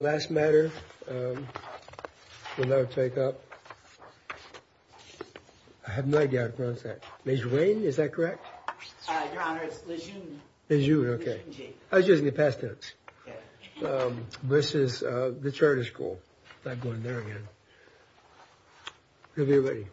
Last matter we'll now take up, I have no idea how to pronounce that, Major Wayne, is that correct? Your Honor, it's Le Jeune. Le Jeune, okay. I was using the past tense. This is the Charter School, not going there again. Good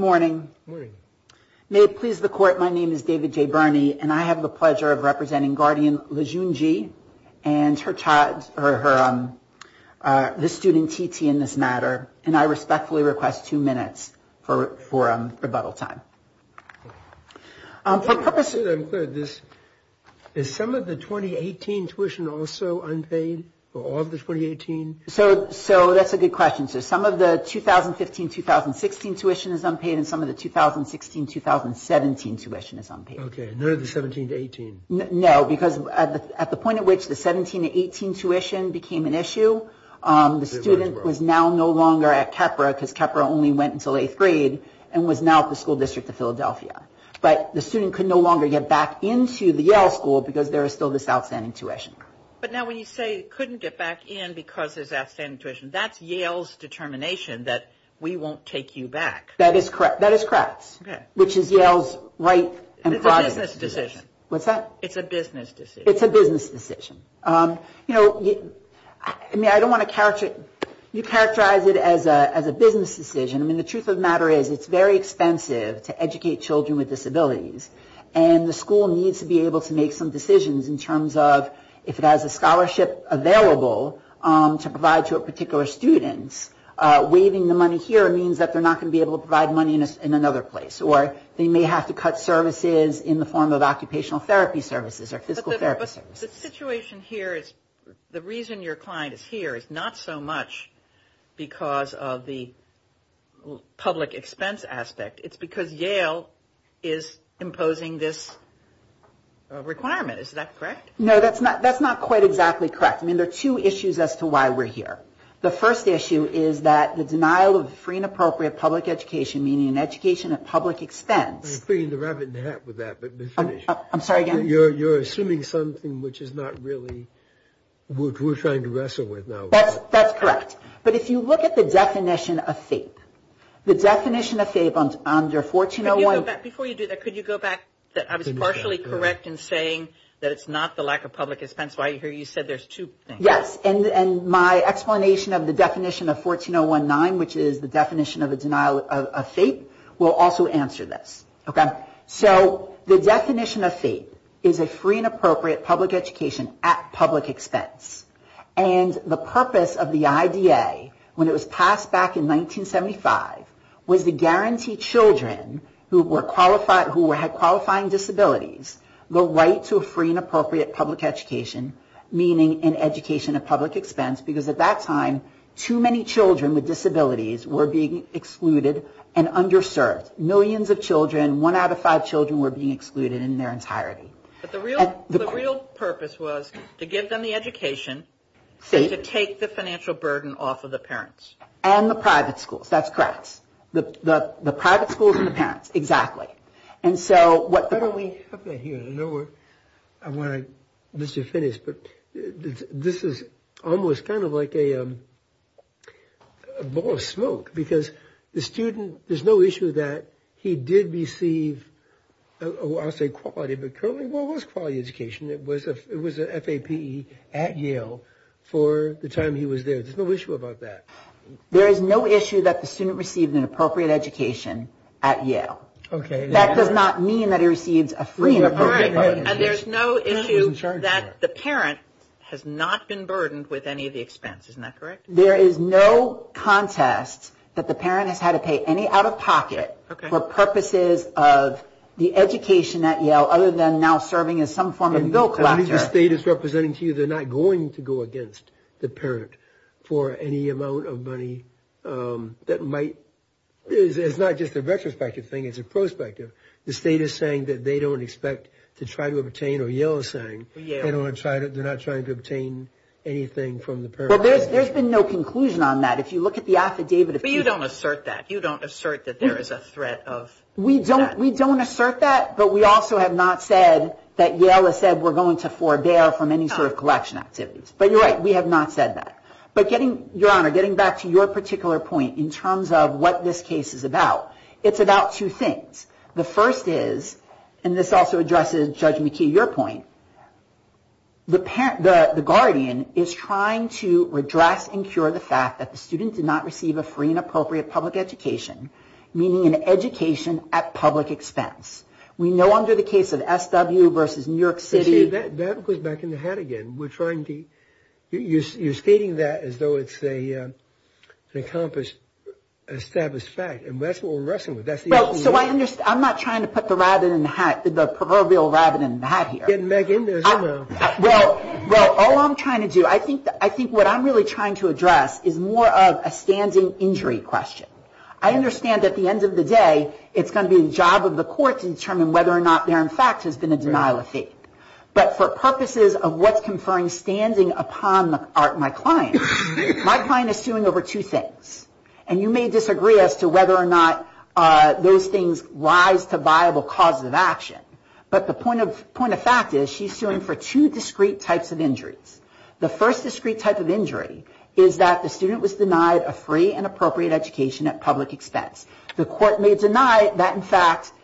morning. May it please the Court, my name is David J. Birney and I have the pleasure of representing Guardian Le Jeune G and the student TT in this matter and I respectfully request two minutes for rebuttal time. Is some of the 2018 tuition also unpaid for all of the 2018? So that's a good question. Some of the 2015-2016 tuition is unpaid and some of the 2016-2017 tuition is unpaid. Okay, none of the 2017-18? No, because at the point at which the 2017-2018 tuition became an issue, the student was now no longer at Khepera because Khepera only went until 8th grade and was now at the School District of Philadelphia. But the student could no longer get back into the Yale School because there is still this outstanding tuition. But now when you say couldn't get back in because there's outstanding tuition, that's Yale's determination that we won't take you back. That is correct. That is correct. Okay. Which is Yale's right and project decision. It's a business decision. What's that? It's a business decision. It's a business decision. I mean, I don't want to characterize it. You characterize it as a business decision. I mean, the truth of the matter is it's very expensive to educate children with disabilities and the school needs to be able to make some decisions in terms of if it has a scholarship available to provide to a particular student, waiving the money here means that they're not going to be able to provide money in another place. Or they may have to cut services in the form of occupational therapy services or physical therapy services. But the situation here is the reason your client is here is not so much because of the public expense aspect. It's because Yale is imposing this requirement. Is that correct? No, that's not quite exactly correct. I mean, there are two issues as to why we're here. The first issue is that the denial of free and appropriate public education, meaning an education at public expense. You're putting the rabbit in the hat with that. I'm sorry, again? You're assuming something which is not really what we're trying to wrestle with now. That's correct. But if you look at the definition of FAPE, the definition of FAPE under 1401. Before you do that, could you go back? I was partially correct in saying that it's not the lack of public expense. I hear you said there's two things. Yes, and my explanation of the definition of 1401.9, which is the definition of a denial of FAPE, will also answer this. So the definition of FAPE is a free and appropriate public education at public expense. And the purpose of the IDA, when it was passed back in 1975, was to guarantee children who had qualifying disabilities the right to a free and appropriate public education, meaning an education at public expense. Because at that time, too many children with disabilities were being excluded and underserved. Millions of children, one out of five children, were being excluded in their entirety. But the real purpose was to give them the education to take the financial burden off of the parents. And the private schools, that's correct. The private schools and the parents, exactly. Why don't we have that here? I want to, Mr. Finnis, but this is almost kind of like a ball of smoke. Because the student, there's no issue that he did receive, I'll say quality, but currently what was quality education? It was a FAPE at Yale for the time he was there. There's no issue about that. There is no issue that the student received an appropriate education at Yale. Okay. That does not mean that he receives a free and appropriate public education. And there's no issue that the parent has not been burdened with any of the expense. Isn't that correct? There is no contest that the parent has had to pay any out-of-pocket for purposes of the education at Yale, other than now serving as some form of bill collector. The state is representing to you they're not going to go against the parent for any amount of money that might, it's not just a retrospective thing, it's a prospective. The state is saying that they don't expect to try to obtain, or Yale is saying, they're not trying to obtain anything from the parent. Well, there's been no conclusion on that. If you look at the affidavit. But you don't assert that. You don't assert that there is a threat of that. We don't assert that, but we also have not said that Yale has said we're going to forbear from any sort of collection activities. But you're right, we have not said that. Your Honor, getting back to your particular point in terms of what this case is about, it's about two things. The first is, and this also addresses Judge McKee, your point, the guardian is trying to redress and cure the fact that the student did not receive a free and appropriate public education, meaning an education at public expense. We know under the case of SW versus New York City. That goes back in the hat again. You're stating that as though it's an accomplished, established fact. And that's what we're wrestling with. I'm not trying to put the proverbial rabbit in the hat here. Well, all I'm trying to do, I think what I'm really trying to address is more of a standing injury question. I understand at the end of the day, it's going to be the job of the court to determine whether or not there in fact has been a denial of faith. But for purposes of what's conferring standing upon my client, my client is suing over two things. And you may disagree as to whether or not those things rise to viable cause of action. But the point of fact is she's suing for two discrete types of injuries. The first discrete type of injury is that the student was denied a free and appropriate education at public expense. The court may deny that in fact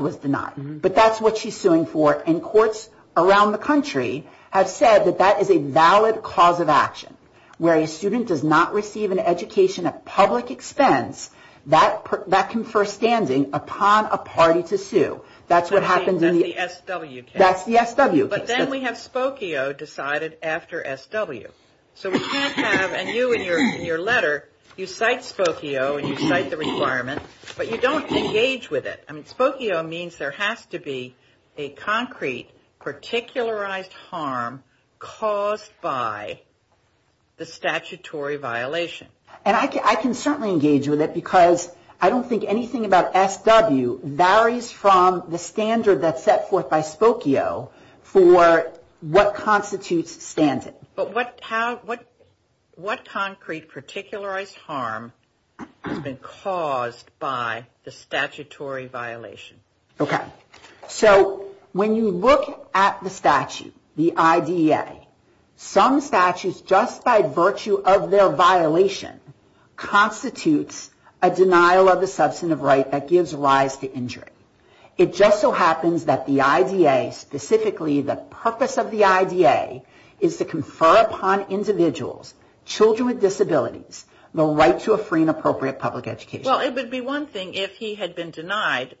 was denied. But that's what she's suing for. And courts around the country have said that that is a valid cause of action. Where a student does not receive an education at public expense, that can confer standing upon a party to sue. That's what happens in the S.W. case. That's the S.W. case. But then we have Spokio decided after S.W. So we can't have, and you in your letter, you cite Spokio and you cite the requirement. But you don't engage with it. I mean, Spokio means there has to be a concrete particularized harm caused by the statutory violation. And I can certainly engage with it because I don't think anything about S.W. varies from the standard that's set forth by Spokio for what constitutes standing. But what concrete particularized harm has been caused by the statutory violation? Okay. So when you look at the statute, the IDA, some statutes, just by virtue of their violation, constitutes a denial of the substantive right that gives rise to injury. It just so happens that the IDA, specifically the purpose of the IDA, is to confer upon individuals, children with disabilities, the right to a free and appropriate public education. Well, it would be one thing if he had been denied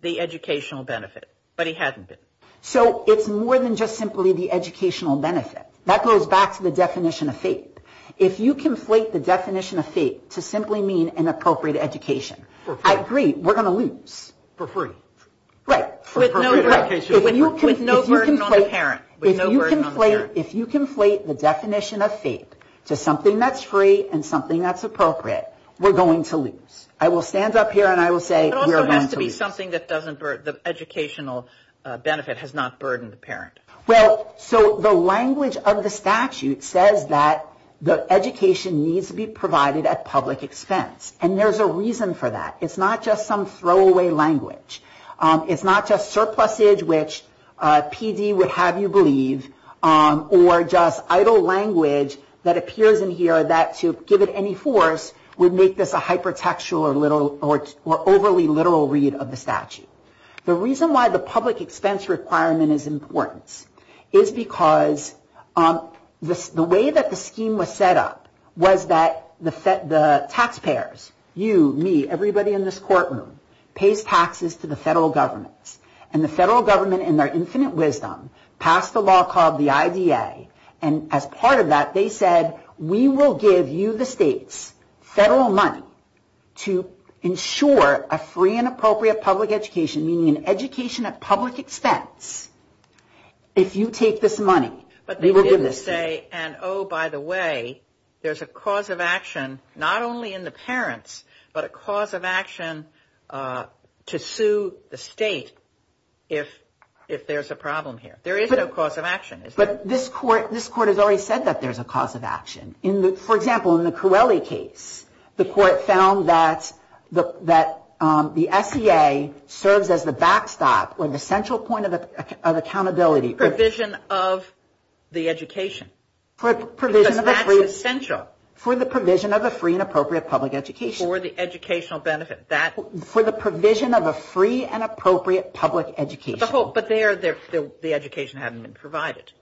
the educational benefit, but he hasn't been. So it's more than just simply the educational benefit. That goes back to the definition of faith. If you conflate the definition of faith to simply mean an appropriate education, I agree, we're going to lose. For free. Right. With no burden on the parent. If you conflate the definition of faith to something that's free and something that's appropriate, we're going to lose. I will stand up here and I will say we're going to lose. It also has to be something that doesn't burden, the educational benefit has not burdened the parent. Well, so the language of the statute says that the education needs to be provided at public expense. And there's a reason for that. It's not just some throwaway language. It's not just surplusage, which PD would have you believe, or just idle language that appears in here that, to give it any force, would make this a hypertextual or overly literal read of the statute. The reason why the public expense requirement is important is because the way that the scheme was set up was that the taxpayers, you, me, everybody in this courtroom, pays taxes to the federal governments. And the federal government, in their infinite wisdom, passed a law called the IDA. And as part of that, they said, we will give you, the states, federal money to ensure a free and appropriate public education, meaning an education at public expense. If you take this money, we will give this to you. And oh, by the way, there's a cause of action, not only in the parents, but a cause of action to sue the state if there's a problem here. There is no cause of action, is there? But this court has already said that there's a cause of action. For example, in the Corelli case, the court found that the SEA serves as the backstop or the central point of accountability. For the provision of the education. Because that's essential. For the provision of a free and appropriate public education. For the educational benefit. For the provision of a free and appropriate public education. But there, the education hadn't been provided,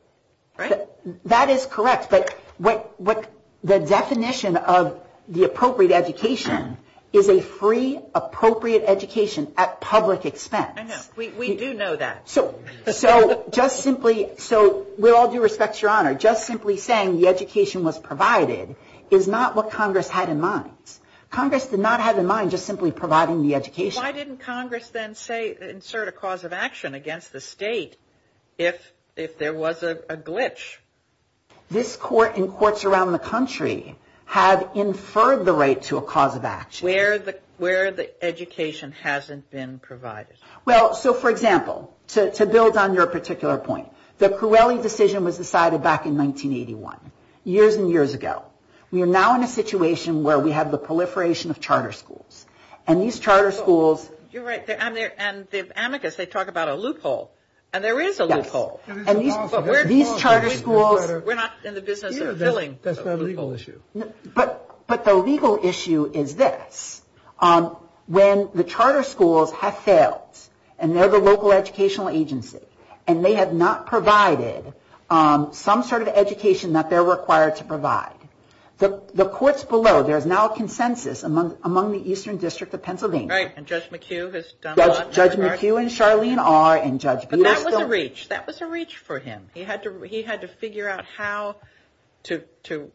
right? That is correct. But the definition of the appropriate education is a free, appropriate education at public expense. I know. We do know that. So just simply, so with all due respect, Your Honor, just simply saying the education was provided is not what Congress had in mind. Congress did not have in mind just simply providing the education. Why didn't Congress then say, insert a cause of action against the state if there was a glitch? This court and courts around the country have inferred the right to a cause of action. Where the education hasn't been provided. Well, so for example, to build on your particular point, the Cruelli decision was decided back in 1981. Years and years ago. We are now in a situation where we have the proliferation of charter schools. And these charter schools. You're right. And the amicus, they talk about a loophole. And there is a loophole. Yes. And these charter schools. We're not in the business of filling. That's not a legal issue. But the legal issue is this. When the charter schools have failed. And they're the local educational agency. And they have not provided some sort of education that they're required to provide. The courts below, there is now a consensus among the Eastern District of Pennsylvania. Right. And Judge McHugh has done a lot. Judge McHugh and Charlene are. But that was a reach. That was a reach for him. He had to figure out how to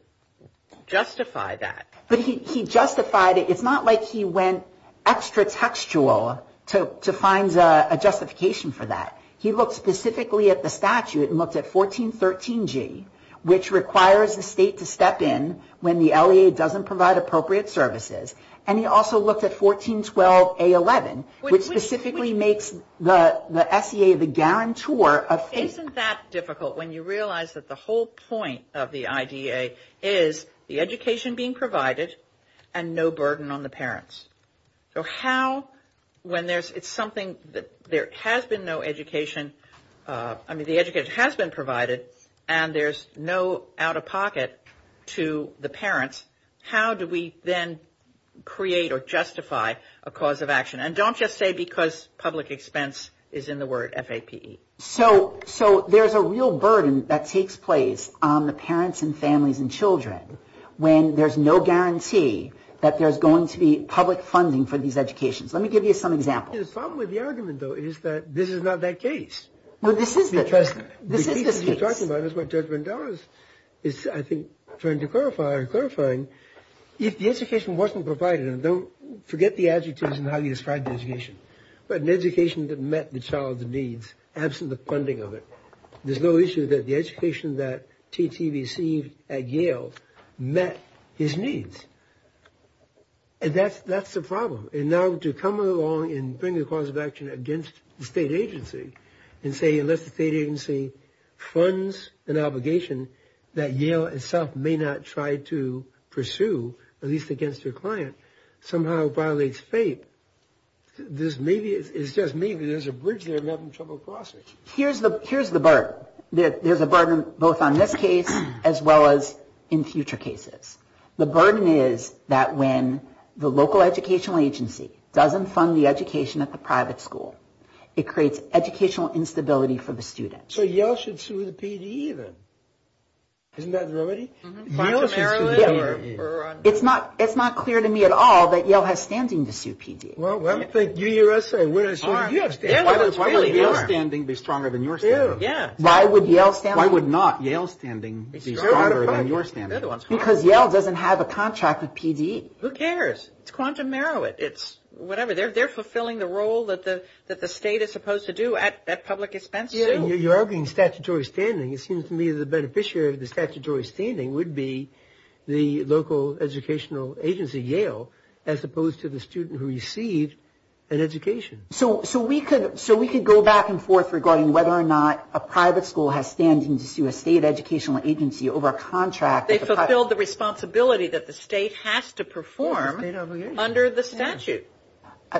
justify that. But he justified it. It's not like he went extra textual to find a justification for that. He looked specifically at the statute. And looked at 1413G. Which requires the state to step in when the LEA doesn't provide appropriate services. And he also looked at 1412A11. Which specifically makes the SEA the guarantor of. Isn't that difficult when you realize that the whole point of the IDEA is the education being provided. And no burden on the parents. So how, when there's, it's something that there has been no education. I mean the education has been provided. And there's no out of pocket to the parents. How do we then create or justify a cause of action? And don't just say because public expense is in the word FAPE. So there's a real burden that takes place on the parents and families and children. When there's no guarantee that there's going to be public funding for these educations. Let me give you some examples. The problem with the argument though is that this is not that case. Well this is the case. The case that you're talking about is what Judge Vandales is I think trying to clarify or clarifying. If the education wasn't provided. And don't forget the adjectives and how you describe the education. But an education that met the child's needs. Absent the funding of it. There's no issue that the education that T.T. received at Yale met his needs. And that's the problem. And now to come along and bring a cause of action against the state agency. And say unless the state agency funds an obligation that Yale itself may not try to pursue. At least against their client. Somehow violates FAPE. There's maybe, it's just maybe there's a bridge there that I'm having trouble crossing. Here's the burden. There's a burden both on this case as well as in future cases. The burden is that when the local educational agency doesn't fund the education at the private school. It creates educational instability for the student. So Yale should sue the PD then. Isn't that the remedy? It's not clear to me at all that Yale has standing to sue PD. Well I don't think UUSA would have sued Yale. Why would Yale's standing be stronger than your standing? Why would Yale's standing be stronger than your standing? Because Yale doesn't have a contract with PD. Who cares? It's quantum merit. It's whatever. They're fulfilling the role that the state is supposed to do at public expense. You're arguing statutory standing. It seems to me the beneficiary of the statutory standing would be the local educational agency Yale. As opposed to the student who received an education. So we could go back and forth regarding whether or not a private school has standing to sue a state educational agency over a contract. They fulfilled the responsibility that the state has to perform under the statute.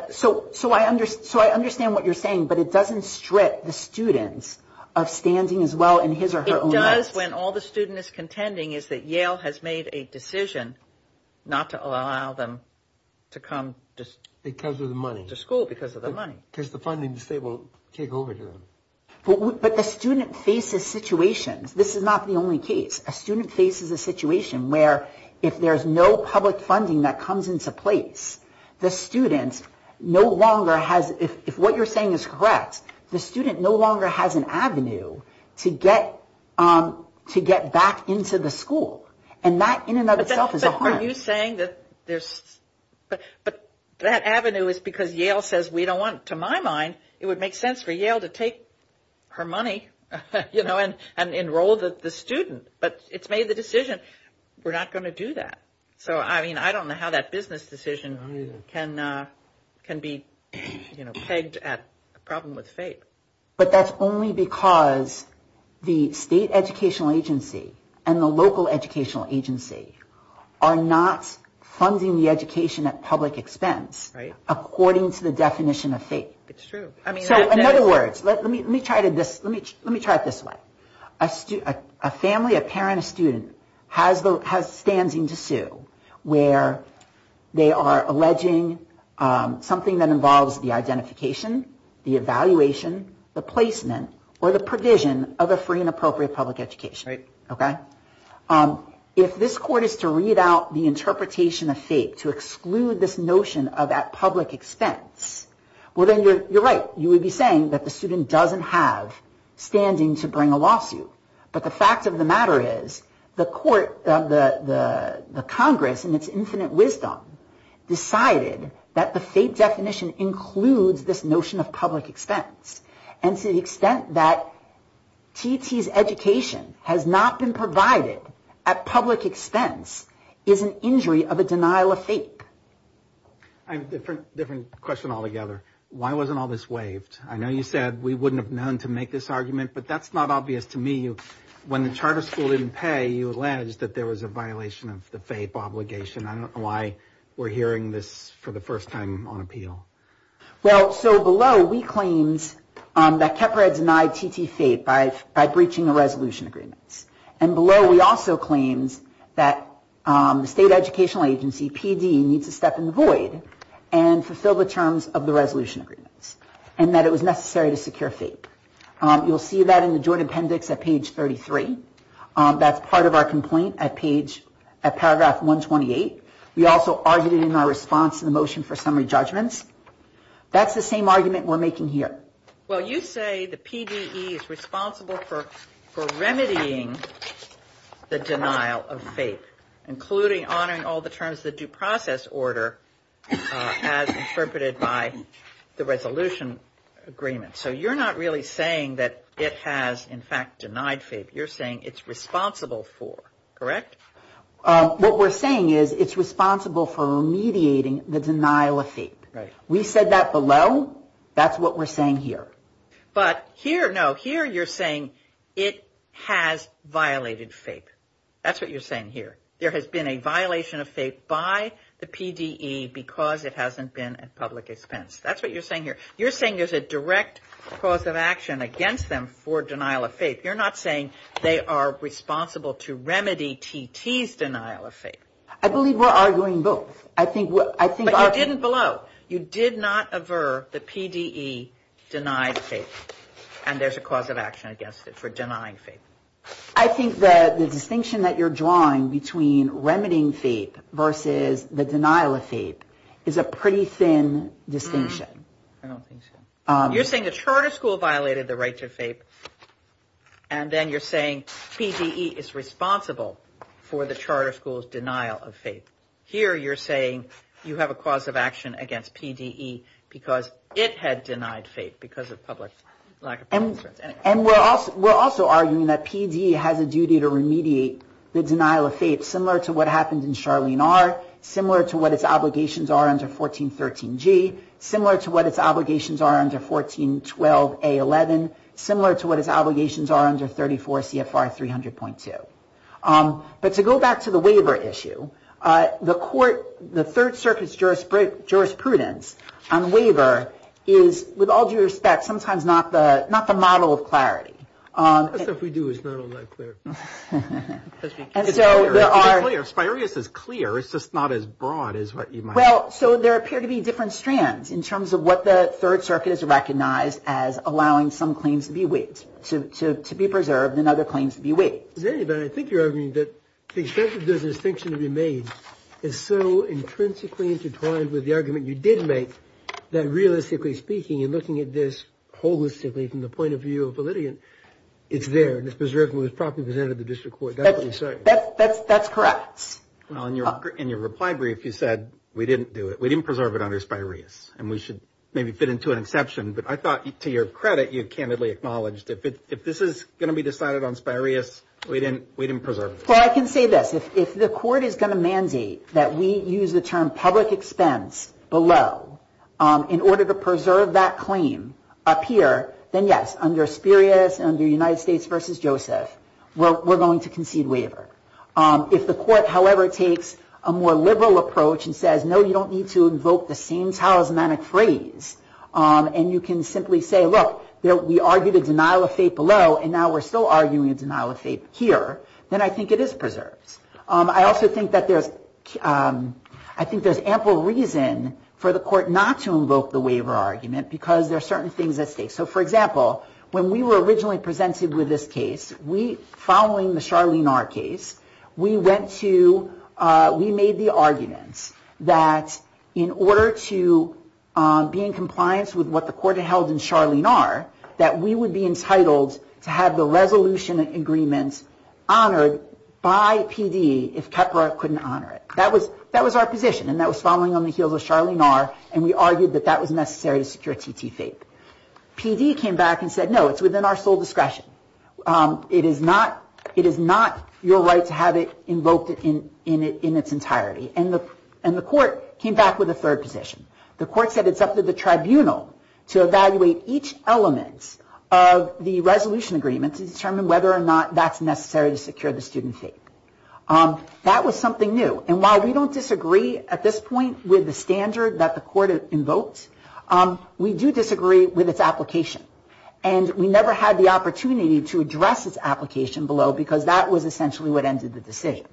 So I understand what you're saying, but it doesn't strip the students of standing as well in his or her own rights. It does when all the student is contending is that Yale has made a decision not to allow them to come to school because of the money. Because the funding the state will take over to them. But the student faces situations. This is not the only case. A student faces a situation where if there's no public funding that comes into place, the student no longer has, if what you're saying is correct, the student no longer has an avenue to get back into the school. And that in and of itself is a harm. Are you saying that there's but that avenue is because Yale says we don't want to my mind. It would make sense for Yale to take her money, you know, and enroll the student. But it's made the decision we're not going to do that. So, I mean, I don't know how that business decision can can be pegged at a problem with fate. But that's only because the state educational agency and the local educational agency are not funding the education at public expense. Right. According to the definition of fate. It's true. I mean, so in other words, let me let me try to this. Let me let me try it this way. A student, a family, a parent, a student has the has standing to sue where they are alleging something that involves the identification, the evaluation, the placement or the provision of a free and appropriate public education. Right. OK. If this court is to read out the interpretation of fate to exclude this notion of that public expense, well, then you're right. You would be saying that the student doesn't have standing to bring a lawsuit. But the fact of the matter is the court of the Congress and its infinite wisdom decided that the fate definition includes this notion of public expense. And to the extent that T.T.'s education has not been provided at public expense is an injury of a denial of fate. I have a different different question altogether. Why wasn't all this waived? I know you said we wouldn't have known to make this argument, but that's not obvious to me. When the charter school didn't pay, you alleged that there was a violation of the fate obligation. I don't know why we're hearing this for the first time on appeal. Well, so below, we claimed that Keprad denied T.T. fate by by breaching the resolution agreements. And below, we also claims that the state educational agency PDE needs to step in the void and fulfill the terms of the resolution agreements and that it was necessary to secure fate. You'll see that in the joint appendix at page 33. That's part of our complaint at page at paragraph 128. We also argued in our response to the motion for summary judgments. That's the same argument we're making here. Well, you say the PDE is responsible for remedying the denial of fate, including honoring all the terms of the due process order as interpreted by the resolution agreement. So you're not really saying that it has, in fact, denied fate. You're saying it's responsible for. Correct? What we're saying is it's responsible for mediating the denial of fate. We said that below. That's what we're saying here. But here, no, here you're saying it has violated fate. That's what you're saying here. There has been a violation of fate by the PDE because it hasn't been at public expense. That's what you're saying here. You're saying there's a direct cause of action against them for denial of fate. You're not saying they are responsible to remedy T.T.'s denial of fate. I believe we're arguing both. But you didn't below. You did not aver the PDE denied fate. And there's a cause of action against it for denying fate. I think that the distinction that you're drawing between remedying fate versus the denial of fate is a pretty thin distinction. I don't think so. You're saying the charter school violated the right to fate. And then you're saying PDE is responsible for the charter school's denial of fate. Here you're saying you have a cause of action against PDE because it had denied fate because of public lack of concerns. And we're also arguing that PDE has a duty to remediate the denial of fate, similar to what happened in Charlene R., similar to what its obligations are under 1413G, similar to what its obligations are under 1412A11, similar to what its obligations are under 34 CFR 300.2. But to go back to the waiver issue, the third circuit's jurisprudence on waiver is, with all due respect, sometimes not the model of clarity. As if we do. It's not all that clear. It's clear. Aspireus is clear. It's just not as broad as what you might think. Well, so there appear to be different strands in terms of what the third circuit has recognized as allowing some claims to be waived, to be preserved and other claims to be waived. I think you're arguing that the extent of the distinction to be made is so intrinsically intertwined with the argument you did make that realistically speaking and looking at this holistically from the point of view of a litigant, it's there and it's preserved and was properly presented to the district court. That's correct. Well, in your reply brief, you said we didn't do it. We didn't preserve it under Aspireus and we should maybe fit into an exception. But I thought to your credit, you candidly acknowledged if this is going to be decided on Aspireus, we didn't preserve it. Well, I can say this. If the court is going to mandate that we use the term public expense below in order to preserve that claim up here, then yes, under Aspireus, under United States v. Joseph, we're going to concede waiver. If the court, however, takes a more liberal approach and says, no, you don't need to invoke the same talismanic phrase and you can simply say, look, we argued a denial of fate below and now we're still arguing a denial of fate here, then I think it is preserved. I also think that there's ample reason for the court not to invoke the waiver argument because there are certain things at stake. So, for example, when we were originally presented with this case, following the Charlene R. case, we made the argument that in order to be in compliance with what the court had held in Charlene R., that we would be entitled to have the resolution agreement honored by PD if Kepra couldn't honor it. That was our position and that was following on the heels of Charlene R. and we argued that that was necessary to secure T.T. fate. PD came back and said, no, it's within our sole discretion. It is not your right to have it invoked in its entirety. And the court came back with a third position. The court said it's up to the tribunal to evaluate each element of the resolution agreement to determine whether or not that's necessary to secure the student fate. That was something new. And while we don't disagree at this point with the standard that the court invoked, we do disagree with its application. And we never had the opportunity to address its application below because that was essentially what ended the decision.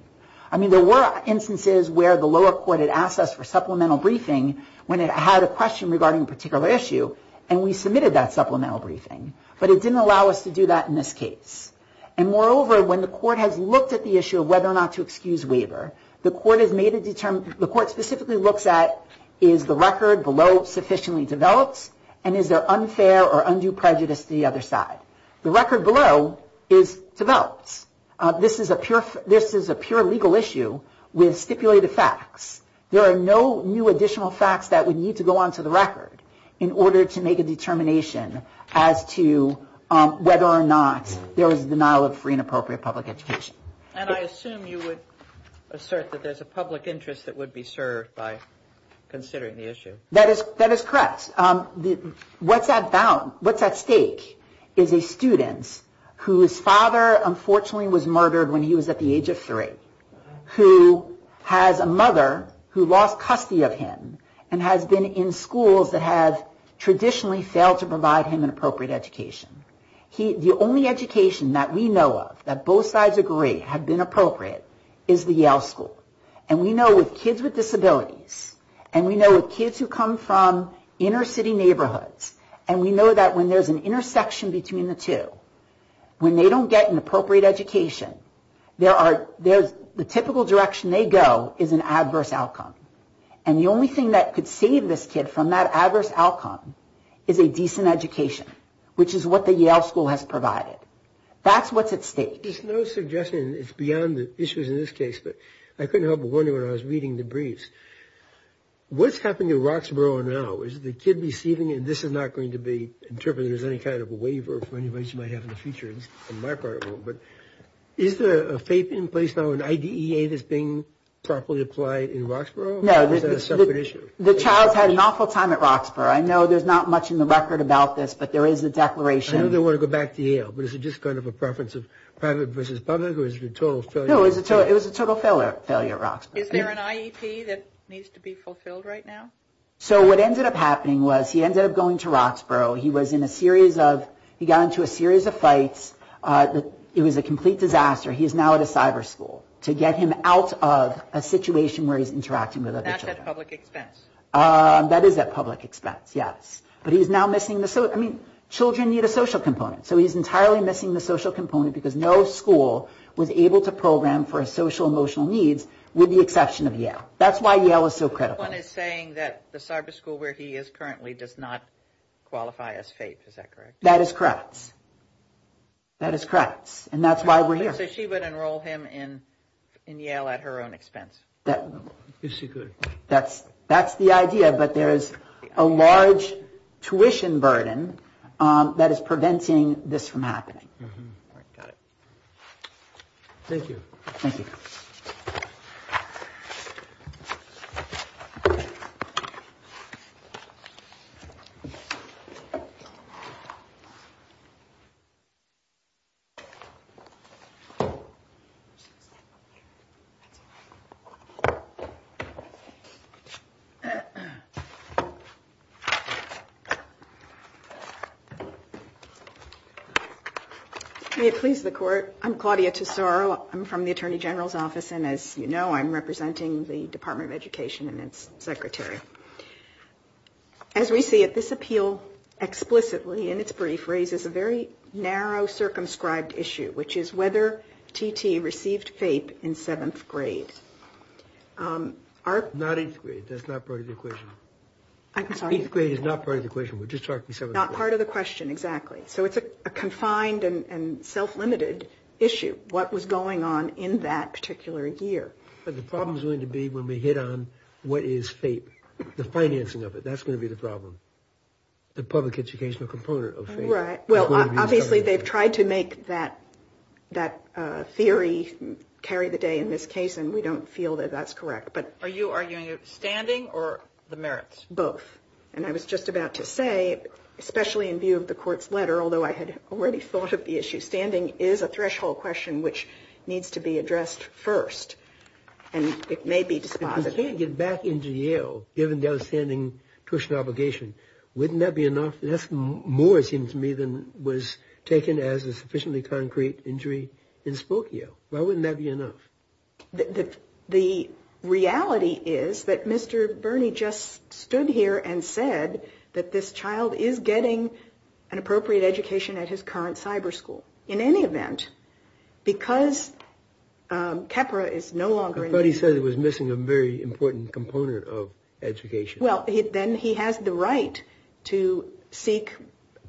I mean, there were instances where the lower court had asked us for supplemental briefing when it had a question regarding a particular issue and we submitted that supplemental briefing, but it didn't allow us to do that in this case. And moreover, when the court has looked at the issue of whether or not to excuse waiver, the court specifically looks at is the record below sufficiently developed and is there unfair or undue prejudice to the other side? The record below is developed. This is a pure legal issue with stipulated facts. There are no new additional facts that would need to go onto the record in order to make a determination as to whether or not there was a denial of free and appropriate public education. And I assume you would assert that there's a public interest that would be served by considering the issue. That is correct. What's at stake is a student whose father unfortunately was murdered when he was at the age of three, who has a mother who lost custody of him and has been in schools that have traditionally failed to provide him an appropriate education. The only education that we know of that both sides agree have been appropriate is the Yale school. And we know with kids with disabilities and we know with kids who come from inner city neighborhoods and we know that when there's an intersection between the two, when they don't get an appropriate education, the typical direction they go is an adverse outcome. And the only thing that could save this kid from that adverse outcome is a decent education, which is what the Yale school has provided. That's what's at stake. There's no suggestion. It's beyond the issues in this case, but I couldn't help but wonder when I was reading the briefs. What's happening in Roxborough now? Is the kid receiving it? This is not going to be interpreted as any kind of a waiver for anybody who might have in the future. Is there a FAPE in place now, an IDEA that's being properly applied in Roxborough? The child's had an awful time at Roxborough. I know there's not much in the record about this, but there is a declaration. I know they want to go back to Yale, but is it just kind of a preference of private versus public or is it a total failure? It was a total failure at Roxborough. Is there an IEP that needs to be fulfilled right now? So what ended up happening was he ended up going to Roxborough. He was in a series of – he got into a series of fights. It was a complete disaster. He is now at a cyber school to get him out of a situation where he's interacting with other children. Not at public expense. That is at public expense, yes. But he's now missing the – I mean, children need a social component, so he's entirely missing the social component because no school was able to program for his social emotional needs with the exception of Yale. That's why Yale is so critical. Someone is saying that the cyber school where he is currently does not qualify as FAPE. Is that correct? That is correct. That is correct, and that's why we're here. So she would enroll him in Yale at her own expense? Yes, she could. That's the idea, but there is a large tuition burden that is preventing this from happening. Got it. Thank you. Thank you. Thank you. May it please the Court, I'm Claudia Tesoro. I'm from the Attorney General's office, and as you know, I'm representing the Department of Education and its secretary. As we see it, this appeal explicitly in its brief raises a very narrow circumscribed issue, which is whether T.T. received FAPE in seventh grade. Not eighth grade. That's not part of the equation. I'm sorry? Eighth grade is not part of the equation. We're just talking seventh grade. Not part of the question, exactly. So it's a confined and self-limited issue. What was going on in that particular year? But the problem is going to be when we hit on what is FAPE, the financing of it. That's going to be the problem, the public educational component of FAPE. Right. Well, obviously they've tried to make that theory carry the day in this case, and we don't feel that that's correct. Are you arguing standing or the merits? Both. And I was just about to say, especially in view of the Court's letter, although I had already thought of the issue, standing is a threshold question which needs to be addressed first, and it may be dispositive. If you can't get back into Yale given the outstanding tuition obligation, wouldn't that be enough? That's more, it seems to me, than was taken as a sufficiently concrete injury in Spokane. Why wouldn't that be enough? The reality is that Mr. Birney just stood here and said that this child is getting an appropriate education at his current cyber school. In any event, because KEPRA is no longer in use. I thought he said it was missing a very important component of education. Well, then he has the right to seek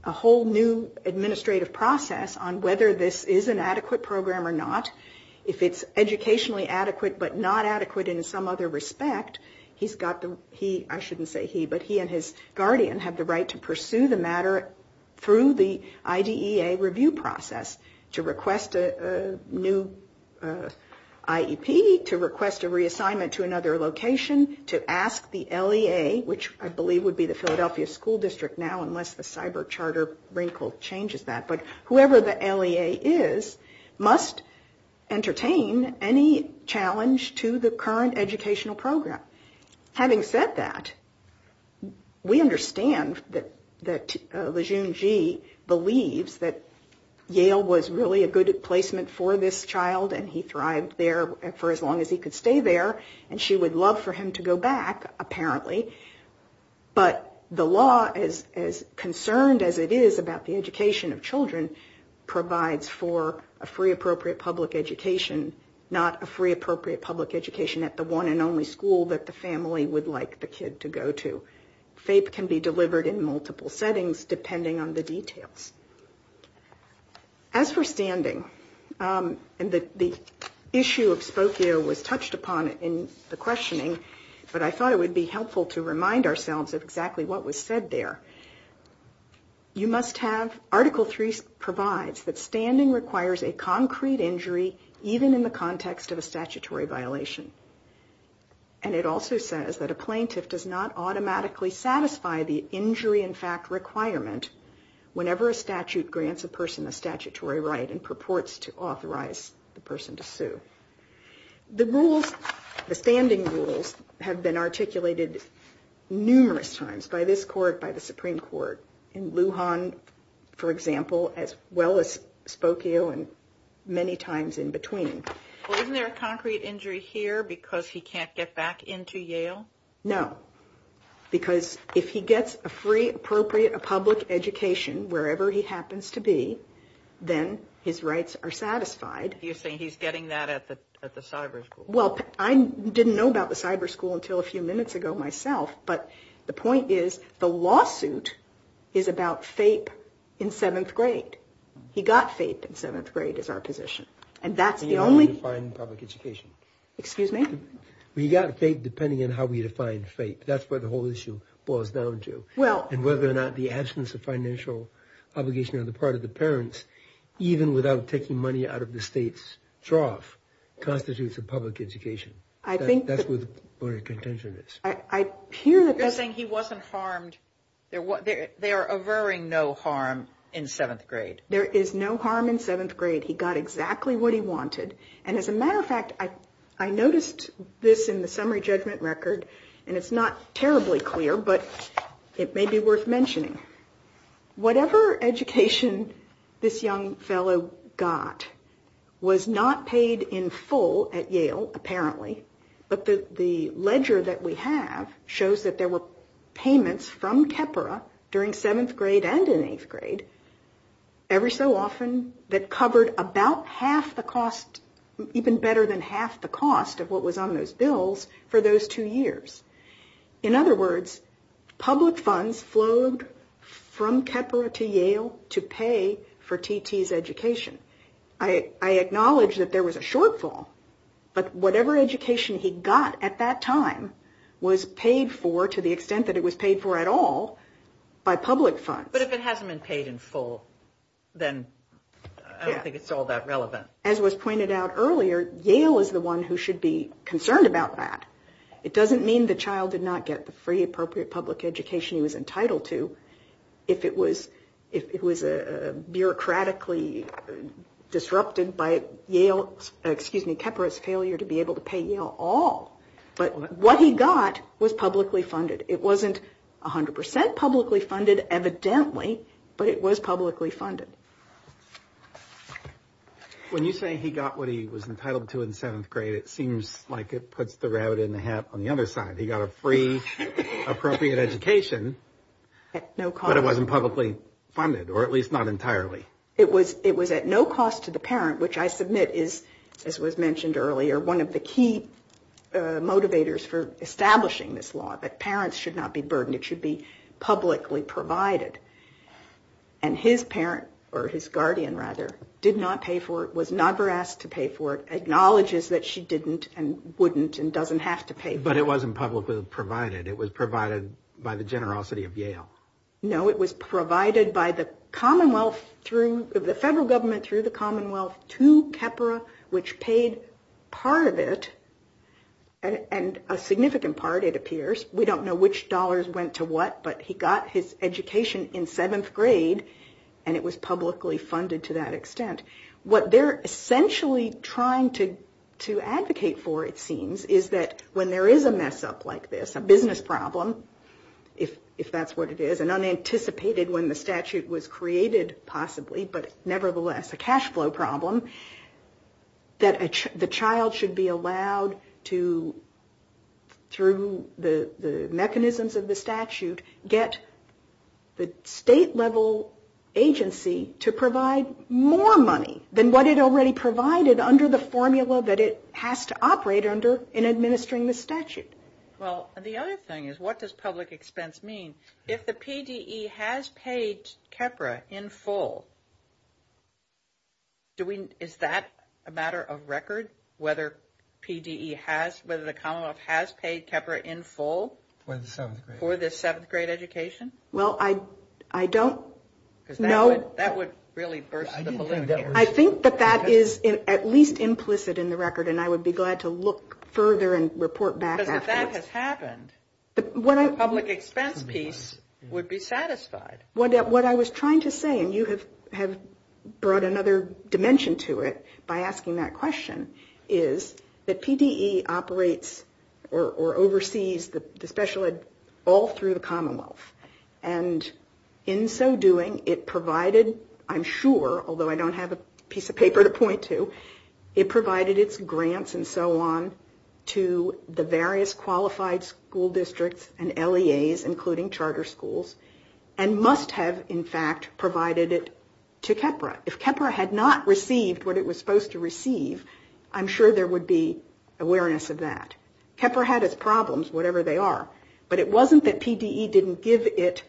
a whole new administrative process on whether this is an adequate program or not. If it's educationally adequate but not adequate in some other respect, he's got the, he, I shouldn't say he, but he and his guardian have the right to pursue the matter through the IDEA review process, to request a new IEP, to request a reassignment to another location, to ask the LEA, which I believe would be the Philadelphia School District now unless the cyber charter wrinkle changes that. But whoever the LEA is must entertain any challenge to the current educational program. Having said that, we understand that Lejeune Gee believes that Yale was really a good placement for this child, and he thrived there for as long as he could stay there, and she would love for him to go back, apparently. But the law, as concerned as it is about the education of children, provides for a free appropriate public education, not a free appropriate public education at the one and only school that the family would like the kid to go to. FAPE can be delivered in multiple settings depending on the details. As for standing, and the issue of Spokio was touched upon in the questioning, but I thought it would be helpful to remind ourselves of exactly what was said there. You must have Article 3 provides that standing requires a concrete injury even in the context of a statutory violation. And it also says that a plaintiff does not automatically satisfy the injury in fact requirement whenever a statute grants a person a statutory right, and purports to authorize the person to sue. The rules, the standing rules, have been articulated numerous times by this court, by the Supreme Court, in Lujan, for example, as well as Spokio, and many times in between. Isn't there a concrete injury here because he can't get back into Yale? No, because if he gets a free appropriate public education wherever he happens to be, then his rights are satisfied. You're saying he's getting that at the cyber school? Well, I didn't know about the cyber school until a few minutes ago myself, but the point is the lawsuit is about FAPE in 7th grade. He got FAPE in 7th grade is our position. And that's the only... How do you define public education? Well, you got FAPE depending on how we define FAPE. That's what the whole issue boils down to. And whether or not the absence of financial obligation on the part of the parents, even without taking money out of the state's trough, constitutes a public education. That's where the contention is. You're saying he wasn't harmed? They are averring no harm in 7th grade? There is no harm in 7th grade. He got exactly what he wanted. And as a matter of fact, I noticed this in the summary judgment record, and it's not terribly clear, but it may be worth mentioning. Whatever education this young fellow got was not paid in full at Yale, apparently. But the ledger that we have shows that there were payments from TEPRA during 7th grade and in 8th grade. Every so often that covered about half the cost, even better than half the cost of what was on those bills for those two years. In other words, public funds flowed from TEPRA to Yale to pay for T.T.'s education. I acknowledge that there was a shortfall, but whatever education he got at that time was paid for to the extent that it was paid for at all by public funds. But if it hasn't been paid in full, then I don't think it's all that relevant. As was pointed out earlier, Yale is the one who should be concerned about that. It doesn't mean the child did not get the free, appropriate public education he was entitled to if it was bureaucratically disrupted by TEPRA's failure to be able to pay Yale all. But what he got was publicly funded. It wasn't 100% publicly funded, evidently, but it was publicly funded. When you say he got what he was entitled to in 7th grade, it seems like it puts the rabbit in the hat on the other side. He got a free, appropriate education, but it wasn't publicly funded, or at least not entirely. It was at no cost to the parent, which I submit is, as was mentioned earlier, one of the key motivators for establishing this law, that parents should not be burdened. It should be publicly provided. And his parent, or his guardian, rather, did not pay for it, was never asked to pay for it, acknowledges that she didn't and wouldn't and doesn't have to pay for it. But it wasn't publicly provided. It was provided by the generosity of Yale. No, it was provided by the Commonwealth through, the federal government through the Commonwealth to TEPRA, which paid part of it, and a significant part, it appears. We don't know which dollars went to what, but he got his education in 7th grade, and it was publicly funded to that extent. What they're essentially trying to advocate for, it seems, is that when there is a mess-up like this, a business problem, if that's what it is, and unanticipated when the statute was created, possibly, but nevertheless a cash flow problem, that the child should be allowed to, through the mechanisms of the statute, get the state-level agency to provide more money than what it already provided under the formula that it has to operate under in administering the statute. Well, the other thing is, what does public expense mean? If the PDE has paid TEPRA in full, is that a matter of record, whether PDE has, whether the Commonwealth has paid TEPRA in full? For the 7th grade education? I think that that is at least implicit in the record, and I would be glad to look further and report back after. If that has happened, the public expense piece would be satisfied. What I was trying to say, and you have brought another dimension to it by asking that question, is that PDE operates or oversees the special ed all through the Commonwealth, and in so doing, it provided, I'm sure, although I don't have a piece of paper to point to, it provided its grants and so on to the various quarterly agencies. It provided it to qualified school districts and LEAs, including charter schools, and must have, in fact, provided it to TEPRA. If TEPRA had not received what it was supposed to receive, I'm sure there would be awareness of that. TEPRA had its problems, whatever they are, but it wasn't that PDE didn't give it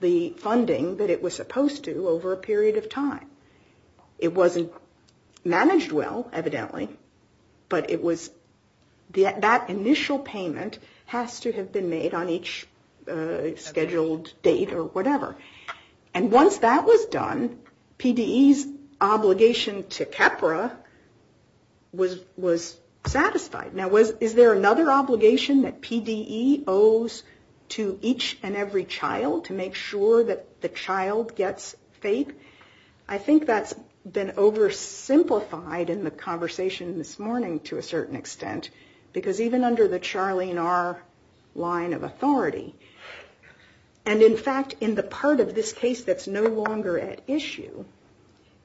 the funding that it was supposed to over a period of time. It wasn't managed well, evidently, but it was that initial payment, that initial payment was not the same as the initial payment. The initial payment has to have been made on each scheduled date or whatever. And once that was done, PDE's obligation to TEPRA was satisfied. Now, is there another obligation that PDE owes to each and every child to make sure that the child gets FAPE? I think that's been oversimplified in the conversation this morning to a certain extent, because even under the Charlene R. line of authority, and in fact, in the part of this case that's no longer at issue,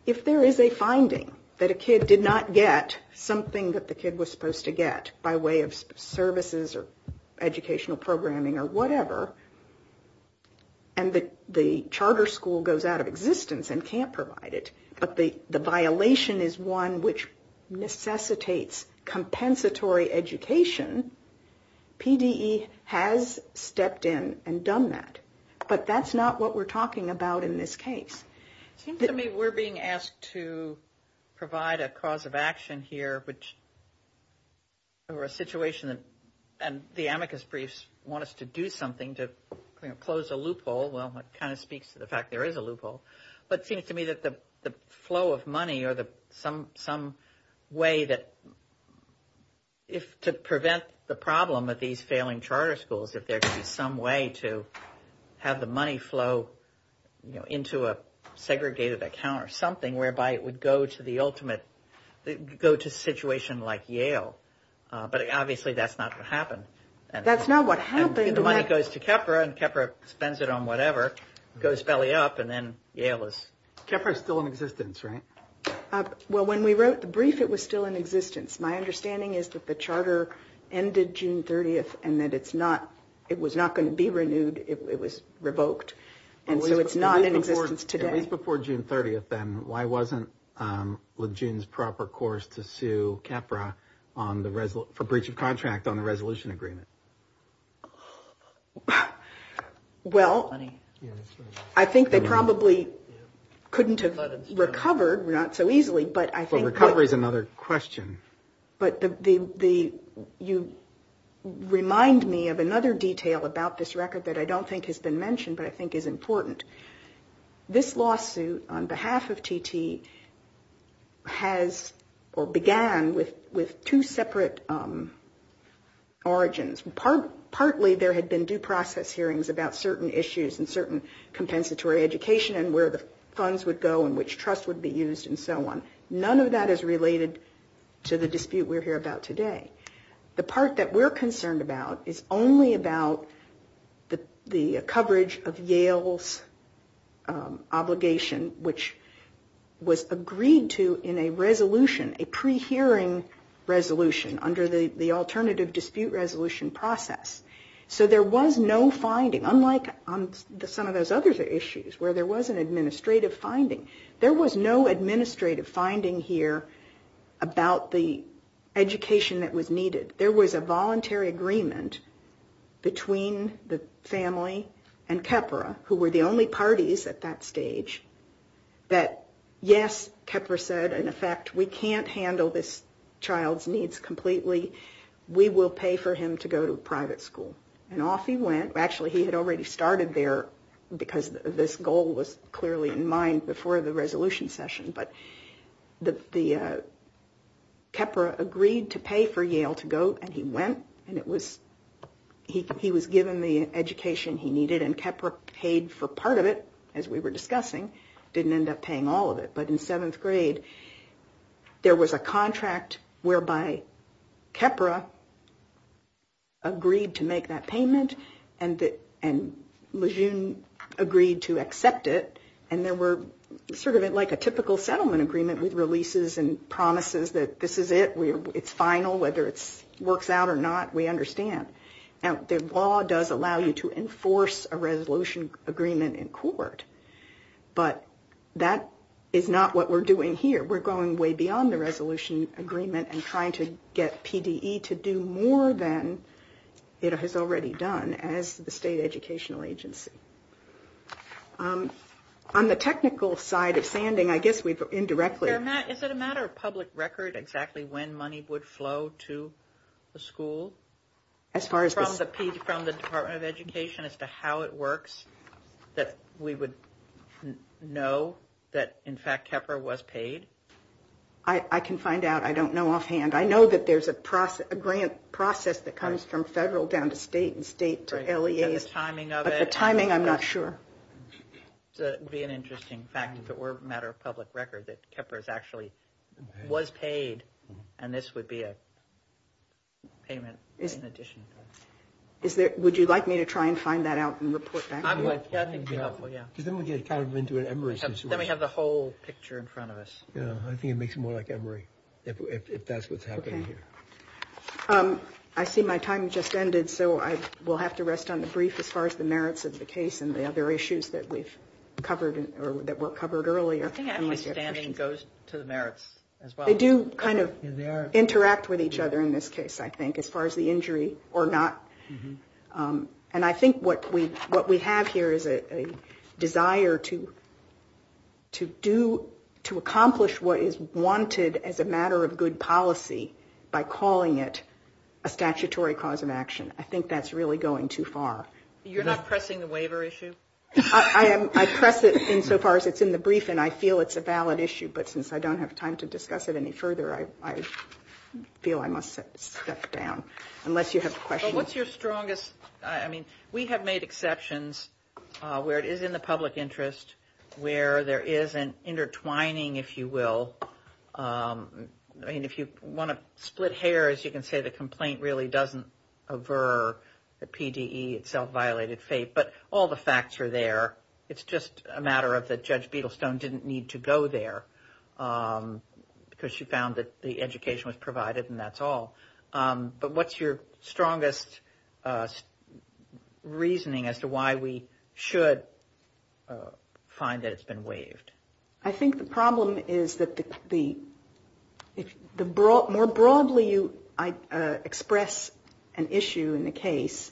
if there is a finding that a kid did not get something that the kid was supposed to get by way of services or educational programming or whatever, and the charter school goes out of existence and can't provide it, but the violation is one which necessitates compensatory education, people are going to have to pay for it. So I think that PDE has stepped in and done that. But that's not what we're talking about in this case. And I don't think it would be a problem for failing charter schools if there could be some way to have the money flow, you know, into a segregated account or something, whereby it would go to the ultimate, go to a situation like Yale. But obviously that's not what happened. And the money goes to TEPRA, and TEPRA spends it on whatever, goes belly up, and then Yale is... Well, when we wrote the brief, it was still in existence. My understanding is that the charter ended June 30th, and that it's not, it was not going to be renewed. It was revoked. And so it's not in existence today. It was before June 30th, then. Why wasn't Lejeune's proper course to sue TEPRA for breach of contract on the resolution agreement? Well, I think they probably couldn't have recovered, not so easily, but I think... But recovery is another question. But the, you remind me of another detail about this record that I don't think has been mentioned, but I think is important. This lawsuit on behalf of TT has, or began, with two separate origins. And partly there had been due process hearings about certain issues and certain compensatory education and where the funds would go and which trust would be used and so on. None of that is related to the dispute we're here about today. The part that we're concerned about is only about the coverage of Yale's obligation, which was agreed to in a resolution, a pre-hearing resolution, under the Alternative Dispute Resolution process. So there was no finding, unlike on some of those other issues, where there was an administrative finding. There was no administrative finding here about the education that was needed. There was a voluntary agreement between the family and TEPRA, who were the only parties at that stage, that yes, TEPRA said, in effect, we can't handle this child's needs completely. We will pay for him to go to private school. And off he went. Actually, he had already started there because this goal was clearly in mind before the resolution session. But TEPRA agreed to pay for Yale to go, and he went. And he was given the education he needed. And TEPRA paid for part of it, as we were discussing. Didn't end up paying all of it. But in seventh grade, there was a contract whereby TEPRA agreed to make that payment, and Lejeune agreed to accept it. And there were sort of like a typical settlement agreement with releases and promises that this is it. It's final, whether it works out or not, we understand. Now, the law does allow you to enforce a resolution agreement in court. But that is not what we're doing here. We're going way beyond the resolution agreement and trying to get PDE to do more than it has already done as the state educational agency. On the technical side of sanding, I guess we've indirectly... Do you know that, in fact, TEPRA was paid? I can find out. I don't know offhand. I know that there's a grant process that comes from federal down to state and state to LEA. But the timing, I'm not sure. It would be an interesting fact if it were a matter of public record that TEPRA actually was paid. And this would be a payment in addition. Would you like me to try and find that out and report back to you? I think it would be helpful, yeah. Then we have the whole picture in front of us. I think it makes it more like Emory, if that's what's happening here. I see my time just ended, so I will have to rest on the brief as far as the merits of the case and the other issues that were covered earlier. I think actually standing goes to the merits as well. They do kind of interact with each other in this case, I think, as far as the injury or not. And I think what we have here is a desire to accomplish what is wanted as a matter of good policy by calling it a statutory cause of action. I think that's really going too far. You're not pressing the waiver issue? I press it insofar as it's in the brief, and I feel it's a valid issue. But since I don't have time to discuss it any further, I feel I must step down. Unless you have questions. But what's your strongest, I mean, we have made exceptions where it is in the public interest, where there is an intertwining, if you will. I mean, if you want to split hairs, you can say the complaint really doesn't aver the PDE, it's self-violated fate. But all the facts are there. It's just a matter of that Judge Beadlestone didn't need to go there because she found that the education was provided, and that's all. What's your strongest reasoning as to why we should find that it's been waived? I think the problem is that the more broadly you express an issue in the case,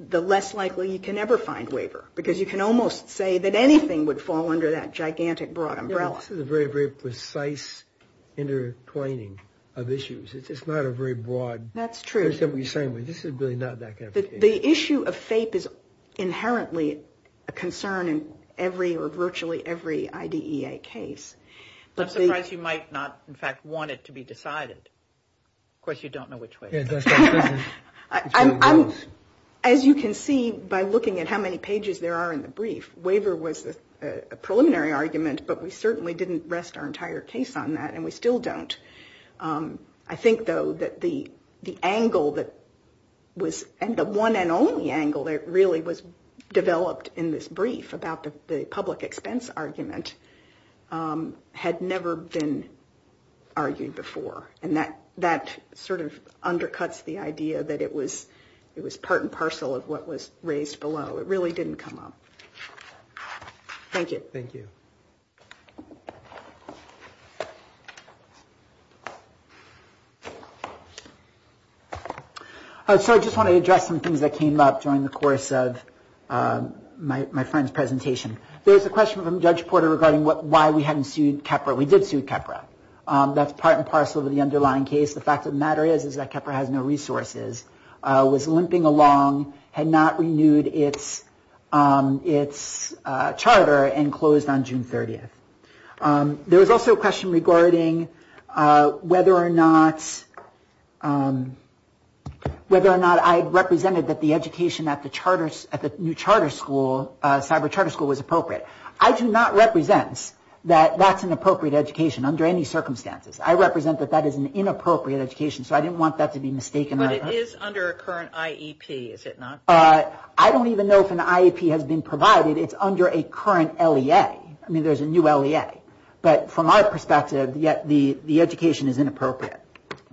the less likely you can ever find waiver. Because you can almost say that anything would fall under that gigantic broad umbrella. This is a very, very precise intertwining of issues. It's not a very broad. That's true. The issue of fate is inherently a concern in every or virtually every IDEA case. I'm surprised you might not, in fact, want it to be decided. Of course, you don't know which way. As you can see by looking at how many pages there are in the brief, waiver was a preliminary argument, but we certainly didn't rest our entire case on that, and we still don't. I think, though, that the angle that was, and the one and only angle that really was developed in this brief about the public expense argument had never been argued before. And that sort of undercuts the idea that it was part and parcel of what was raised below. It really didn't come up. Thank you. So I just want to address some things that came up during the course of my friend's presentation. There's a question from Judge Porter regarding why we hadn't sued KEPRA. We did sue KEPRA. That's part and parcel of the underlying case. The fact of the matter is that KEPRA has no resources, was limping along, had not renewed its charter, and closed on June 30th. There was also a question regarding whether or not I represented that the education at the new charter school, cyber charter school, was appropriate. I do not represent that that's an appropriate education under any circumstances. I represent that that is an inappropriate education, so I didn't want that to be mistaken. But it is under a current IEP, is it not? I don't even know if an IEP has been provided. It's under a current LEA. I mean, there's a new LEA. But from our perspective, the education is inappropriate.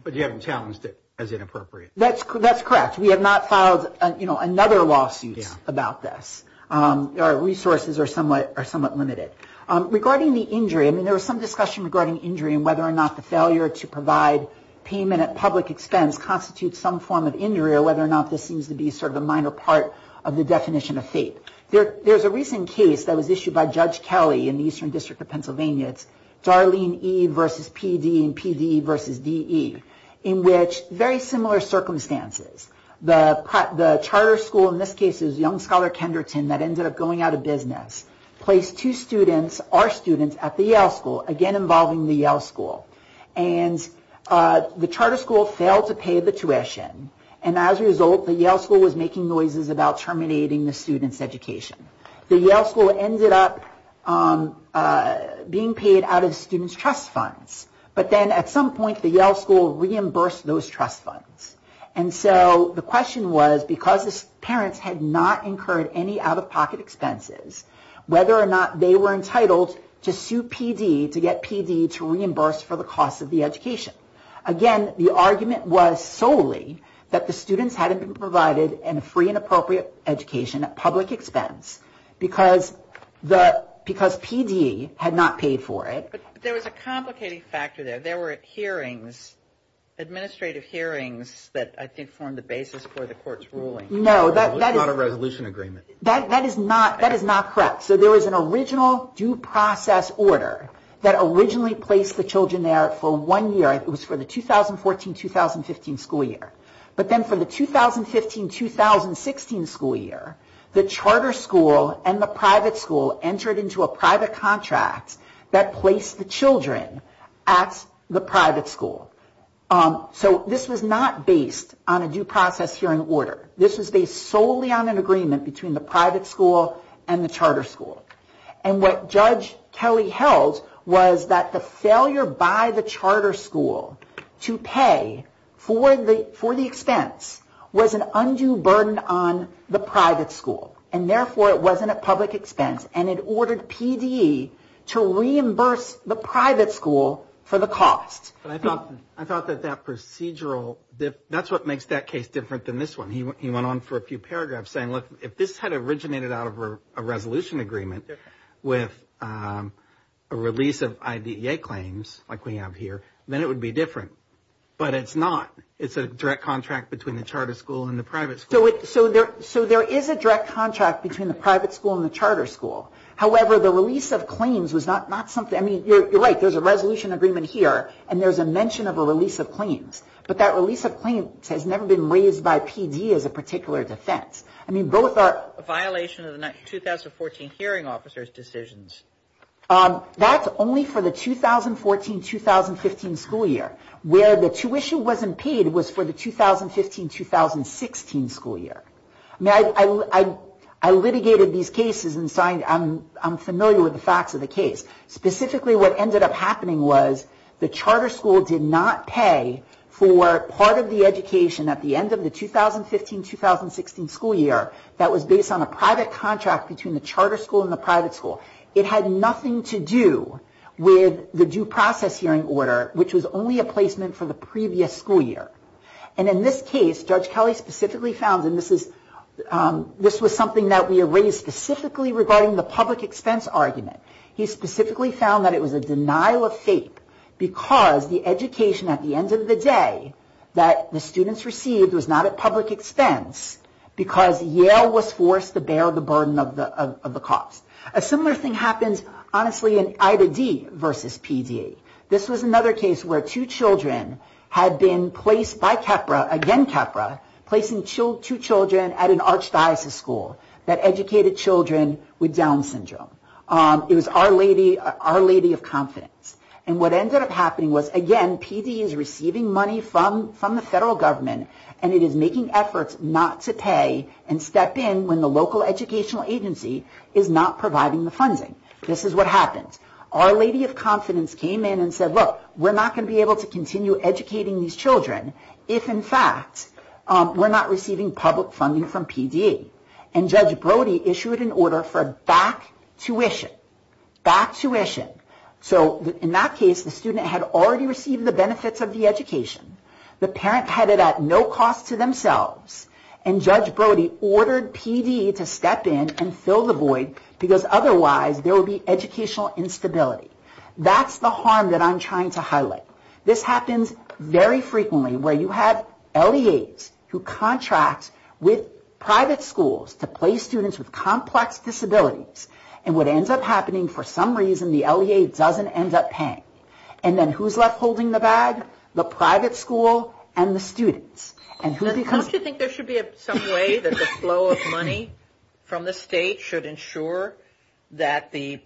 But you haven't challenged it as inappropriate. That's correct. We have not filed another lawsuit about this. Our resources are somewhat limited. Regarding the injury, I mean, there was some discussion regarding injury and whether or not the failure to provide payment at public expense constitutes some form of injury or whether or not this seems to be sort of a minor part of the definition of fate. There's a recent case that was issued by Judge Kelly in the Eastern District of Pennsylvania. It's Darlene E. v. P.D. and P.D. v. D.E. in which very similar circumstances. The charter school, in this case it was Young Scholar Kenderton that ended up going out of business, placed two students, our students, at the Yale school, again involving the Yale school. And the charter school failed to pay the tuition. And as a result, the Yale school was making noises about terminating the student's education. The Yale school ended up being paid out of the student's trust funds. But then at some point, the Yale school reimbursed those trust funds. And so the question was, because the parents had not incurred any out-of-pocket expenses, whether or not they were entitled to sue P.D., to get P.D. to reimburse for those expenses, or the cost of the education. Again, the argument was solely that the students hadn't been provided a free and appropriate education at public expense. Because P.D. had not paid for it. But there was a complicated factor there. There were hearings, administrative hearings that I think formed the basis for the court's ruling. No, that is not a resolution agreement. That is not correct. So there was an original due process order that originally placed the children there for one year. It was for the 2014-2015 school year. But then for the 2015-2016 school year, the charter school and the private school entered into a private contract that placed the children at the private school. So this was not based on a due process hearing order. This was based solely on an agreement between the private school and the charter school. And what Judge Kelly held was that the failure by the charter school to pay for the expense was an undue burden on the private school. And therefore, it wasn't a public expense. And it ordered P.D. to reimburse the private school for the cost. But I thought that that procedural, that's what makes that case different than this one. He went on for a few paragraphs saying, look, if this had originated out of a resolution agreement, with a release of IDEA claims like we have here, then it would be different. But it's not. It's a direct contract between the charter school and the private school. So there is a direct contract between the private school and the charter school. However, the release of claims was not something, I mean, you're right, there's a resolution agreement here, and there's a mention of a release of claims. But that release of claims has never been raised by P.D. as a particular defense. I mean, both are... A violation of the 2014 hearing officer's decisions. That's only for the 2014-2015 school year. Where the tuition wasn't paid was for the 2015-2016 school year. I mean, I litigated these cases and I'm familiar with the facts of the case. Specifically, what ended up happening was the charter school did not pay for part of the education at the end of the 2015-2016 school year that was based on a private contract between the charter school and the private school. It had nothing to do with the due process hearing order, which was only a placement for the previous school year. And in this case, Judge Kelly specifically found, and this was something that we erased specifically regarding the public expense argument, he specifically found that it was a denial of FAPE because the education at the end of the day that the students received was not at public expense because Yale was forced to bear the burden of the cost. A similar thing happens, honestly, in Ida D. versus P.D. This was another case where two children had been placed by Capra, again Capra, placing two children at an archdiocese school that educated children with Down syndrome. It was Our Lady of Confidence. And what ended up happening was, again, P.D. is receiving money from the federal government, and it is making efforts not to pay and step in when the local educational agency is not providing the funding. This is what happened. Our Lady of Confidence came in and said, look, we're not going to be able to continue educating these children if, in fact, we're not receiving public funding from P.D. And Judge Brody issued an order for back tuition. Back tuition. So in that case, the student had already received the benefits of the education. The parent had it at no cost to themselves. And Judge Brody ordered P.D. to step in and fill the void because otherwise there would be educational instability. That's the harm that I'm trying to highlight. This happens very frequently where you have LEAs who contract with private schools to place students with complex disabilities. And what ends up happening, for some reason, the LEA doesn't end up paying. And then who's left holding the bag? The private school and the students. Don't you think there should be some way that the flow of money from the state should ensure that the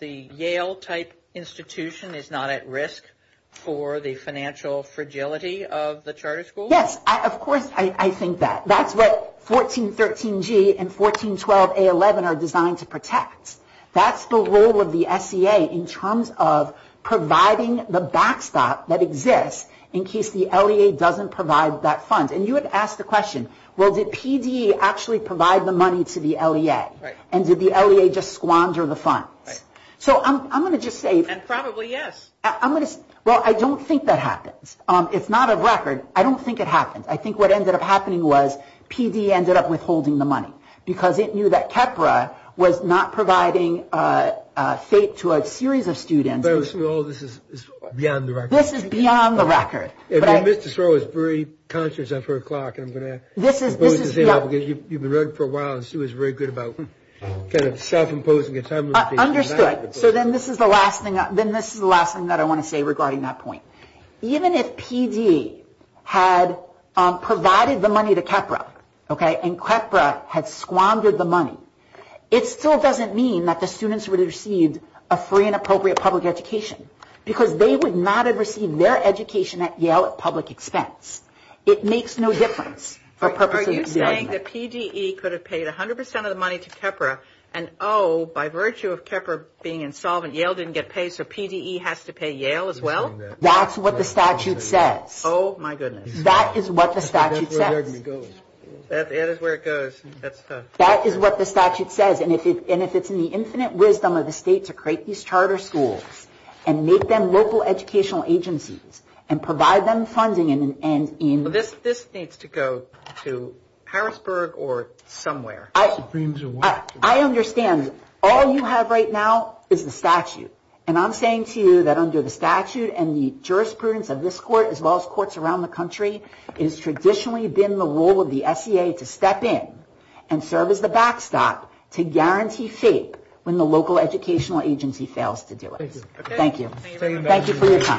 Yale-type institution is not at risk for the financial fragility of the charter school? Yes, of course I think that. That's what 1413G and 1412A11 are designed to protect. That's the role of the SEA in terms of providing the backstop that exists in case the LEA doesn't provide that fund. And you had asked the question, well, did P.D. actually provide the money to the LEA? And did the LEA just squander the funds? And probably yes. Well, I don't think that happens. It's not a record. I don't think it happens. I think what ended up happening was P.D. ended up withholding the money because it knew that KEPRA was not providing FATE to a series of students. So all of this is beyond the record? This is beyond the record. Mr. Soros is very conscious of her clock. You've been running for a while and she was very good about self-imposing a time limit. Understood. So then this is the last thing that I want to say regarding that point. Even if P.D. had provided the money to KEPRA and KEPRA had squandered the money, it still doesn't mean that the students would have received a free and appropriate public education because they would not have received their education at Yale at public expense. It makes no difference. Are you saying that P.D. could have paid 100 percent of the money to KEPRA and, oh, by virtue of KEPRA being insolvent, Yale didn't get paid so P.D.E. has to pay Yale as well? That's what the statute says. Oh, my goodness. That is what the statute says. And if it's in the infinite wisdom of the state to create these charter schools and make them local educational agencies and provide them funding in... This needs to go to Harrisburg or somewhere. I understand. All you have right now is the statute. And I'm saying to you that under the statute and the jurisprudence of this court as well as courts around the country, it has traditionally been the role of the SEA to step in and serve as the backstop to guarantee FAPE when the local educational agency fails to do it. Thank you.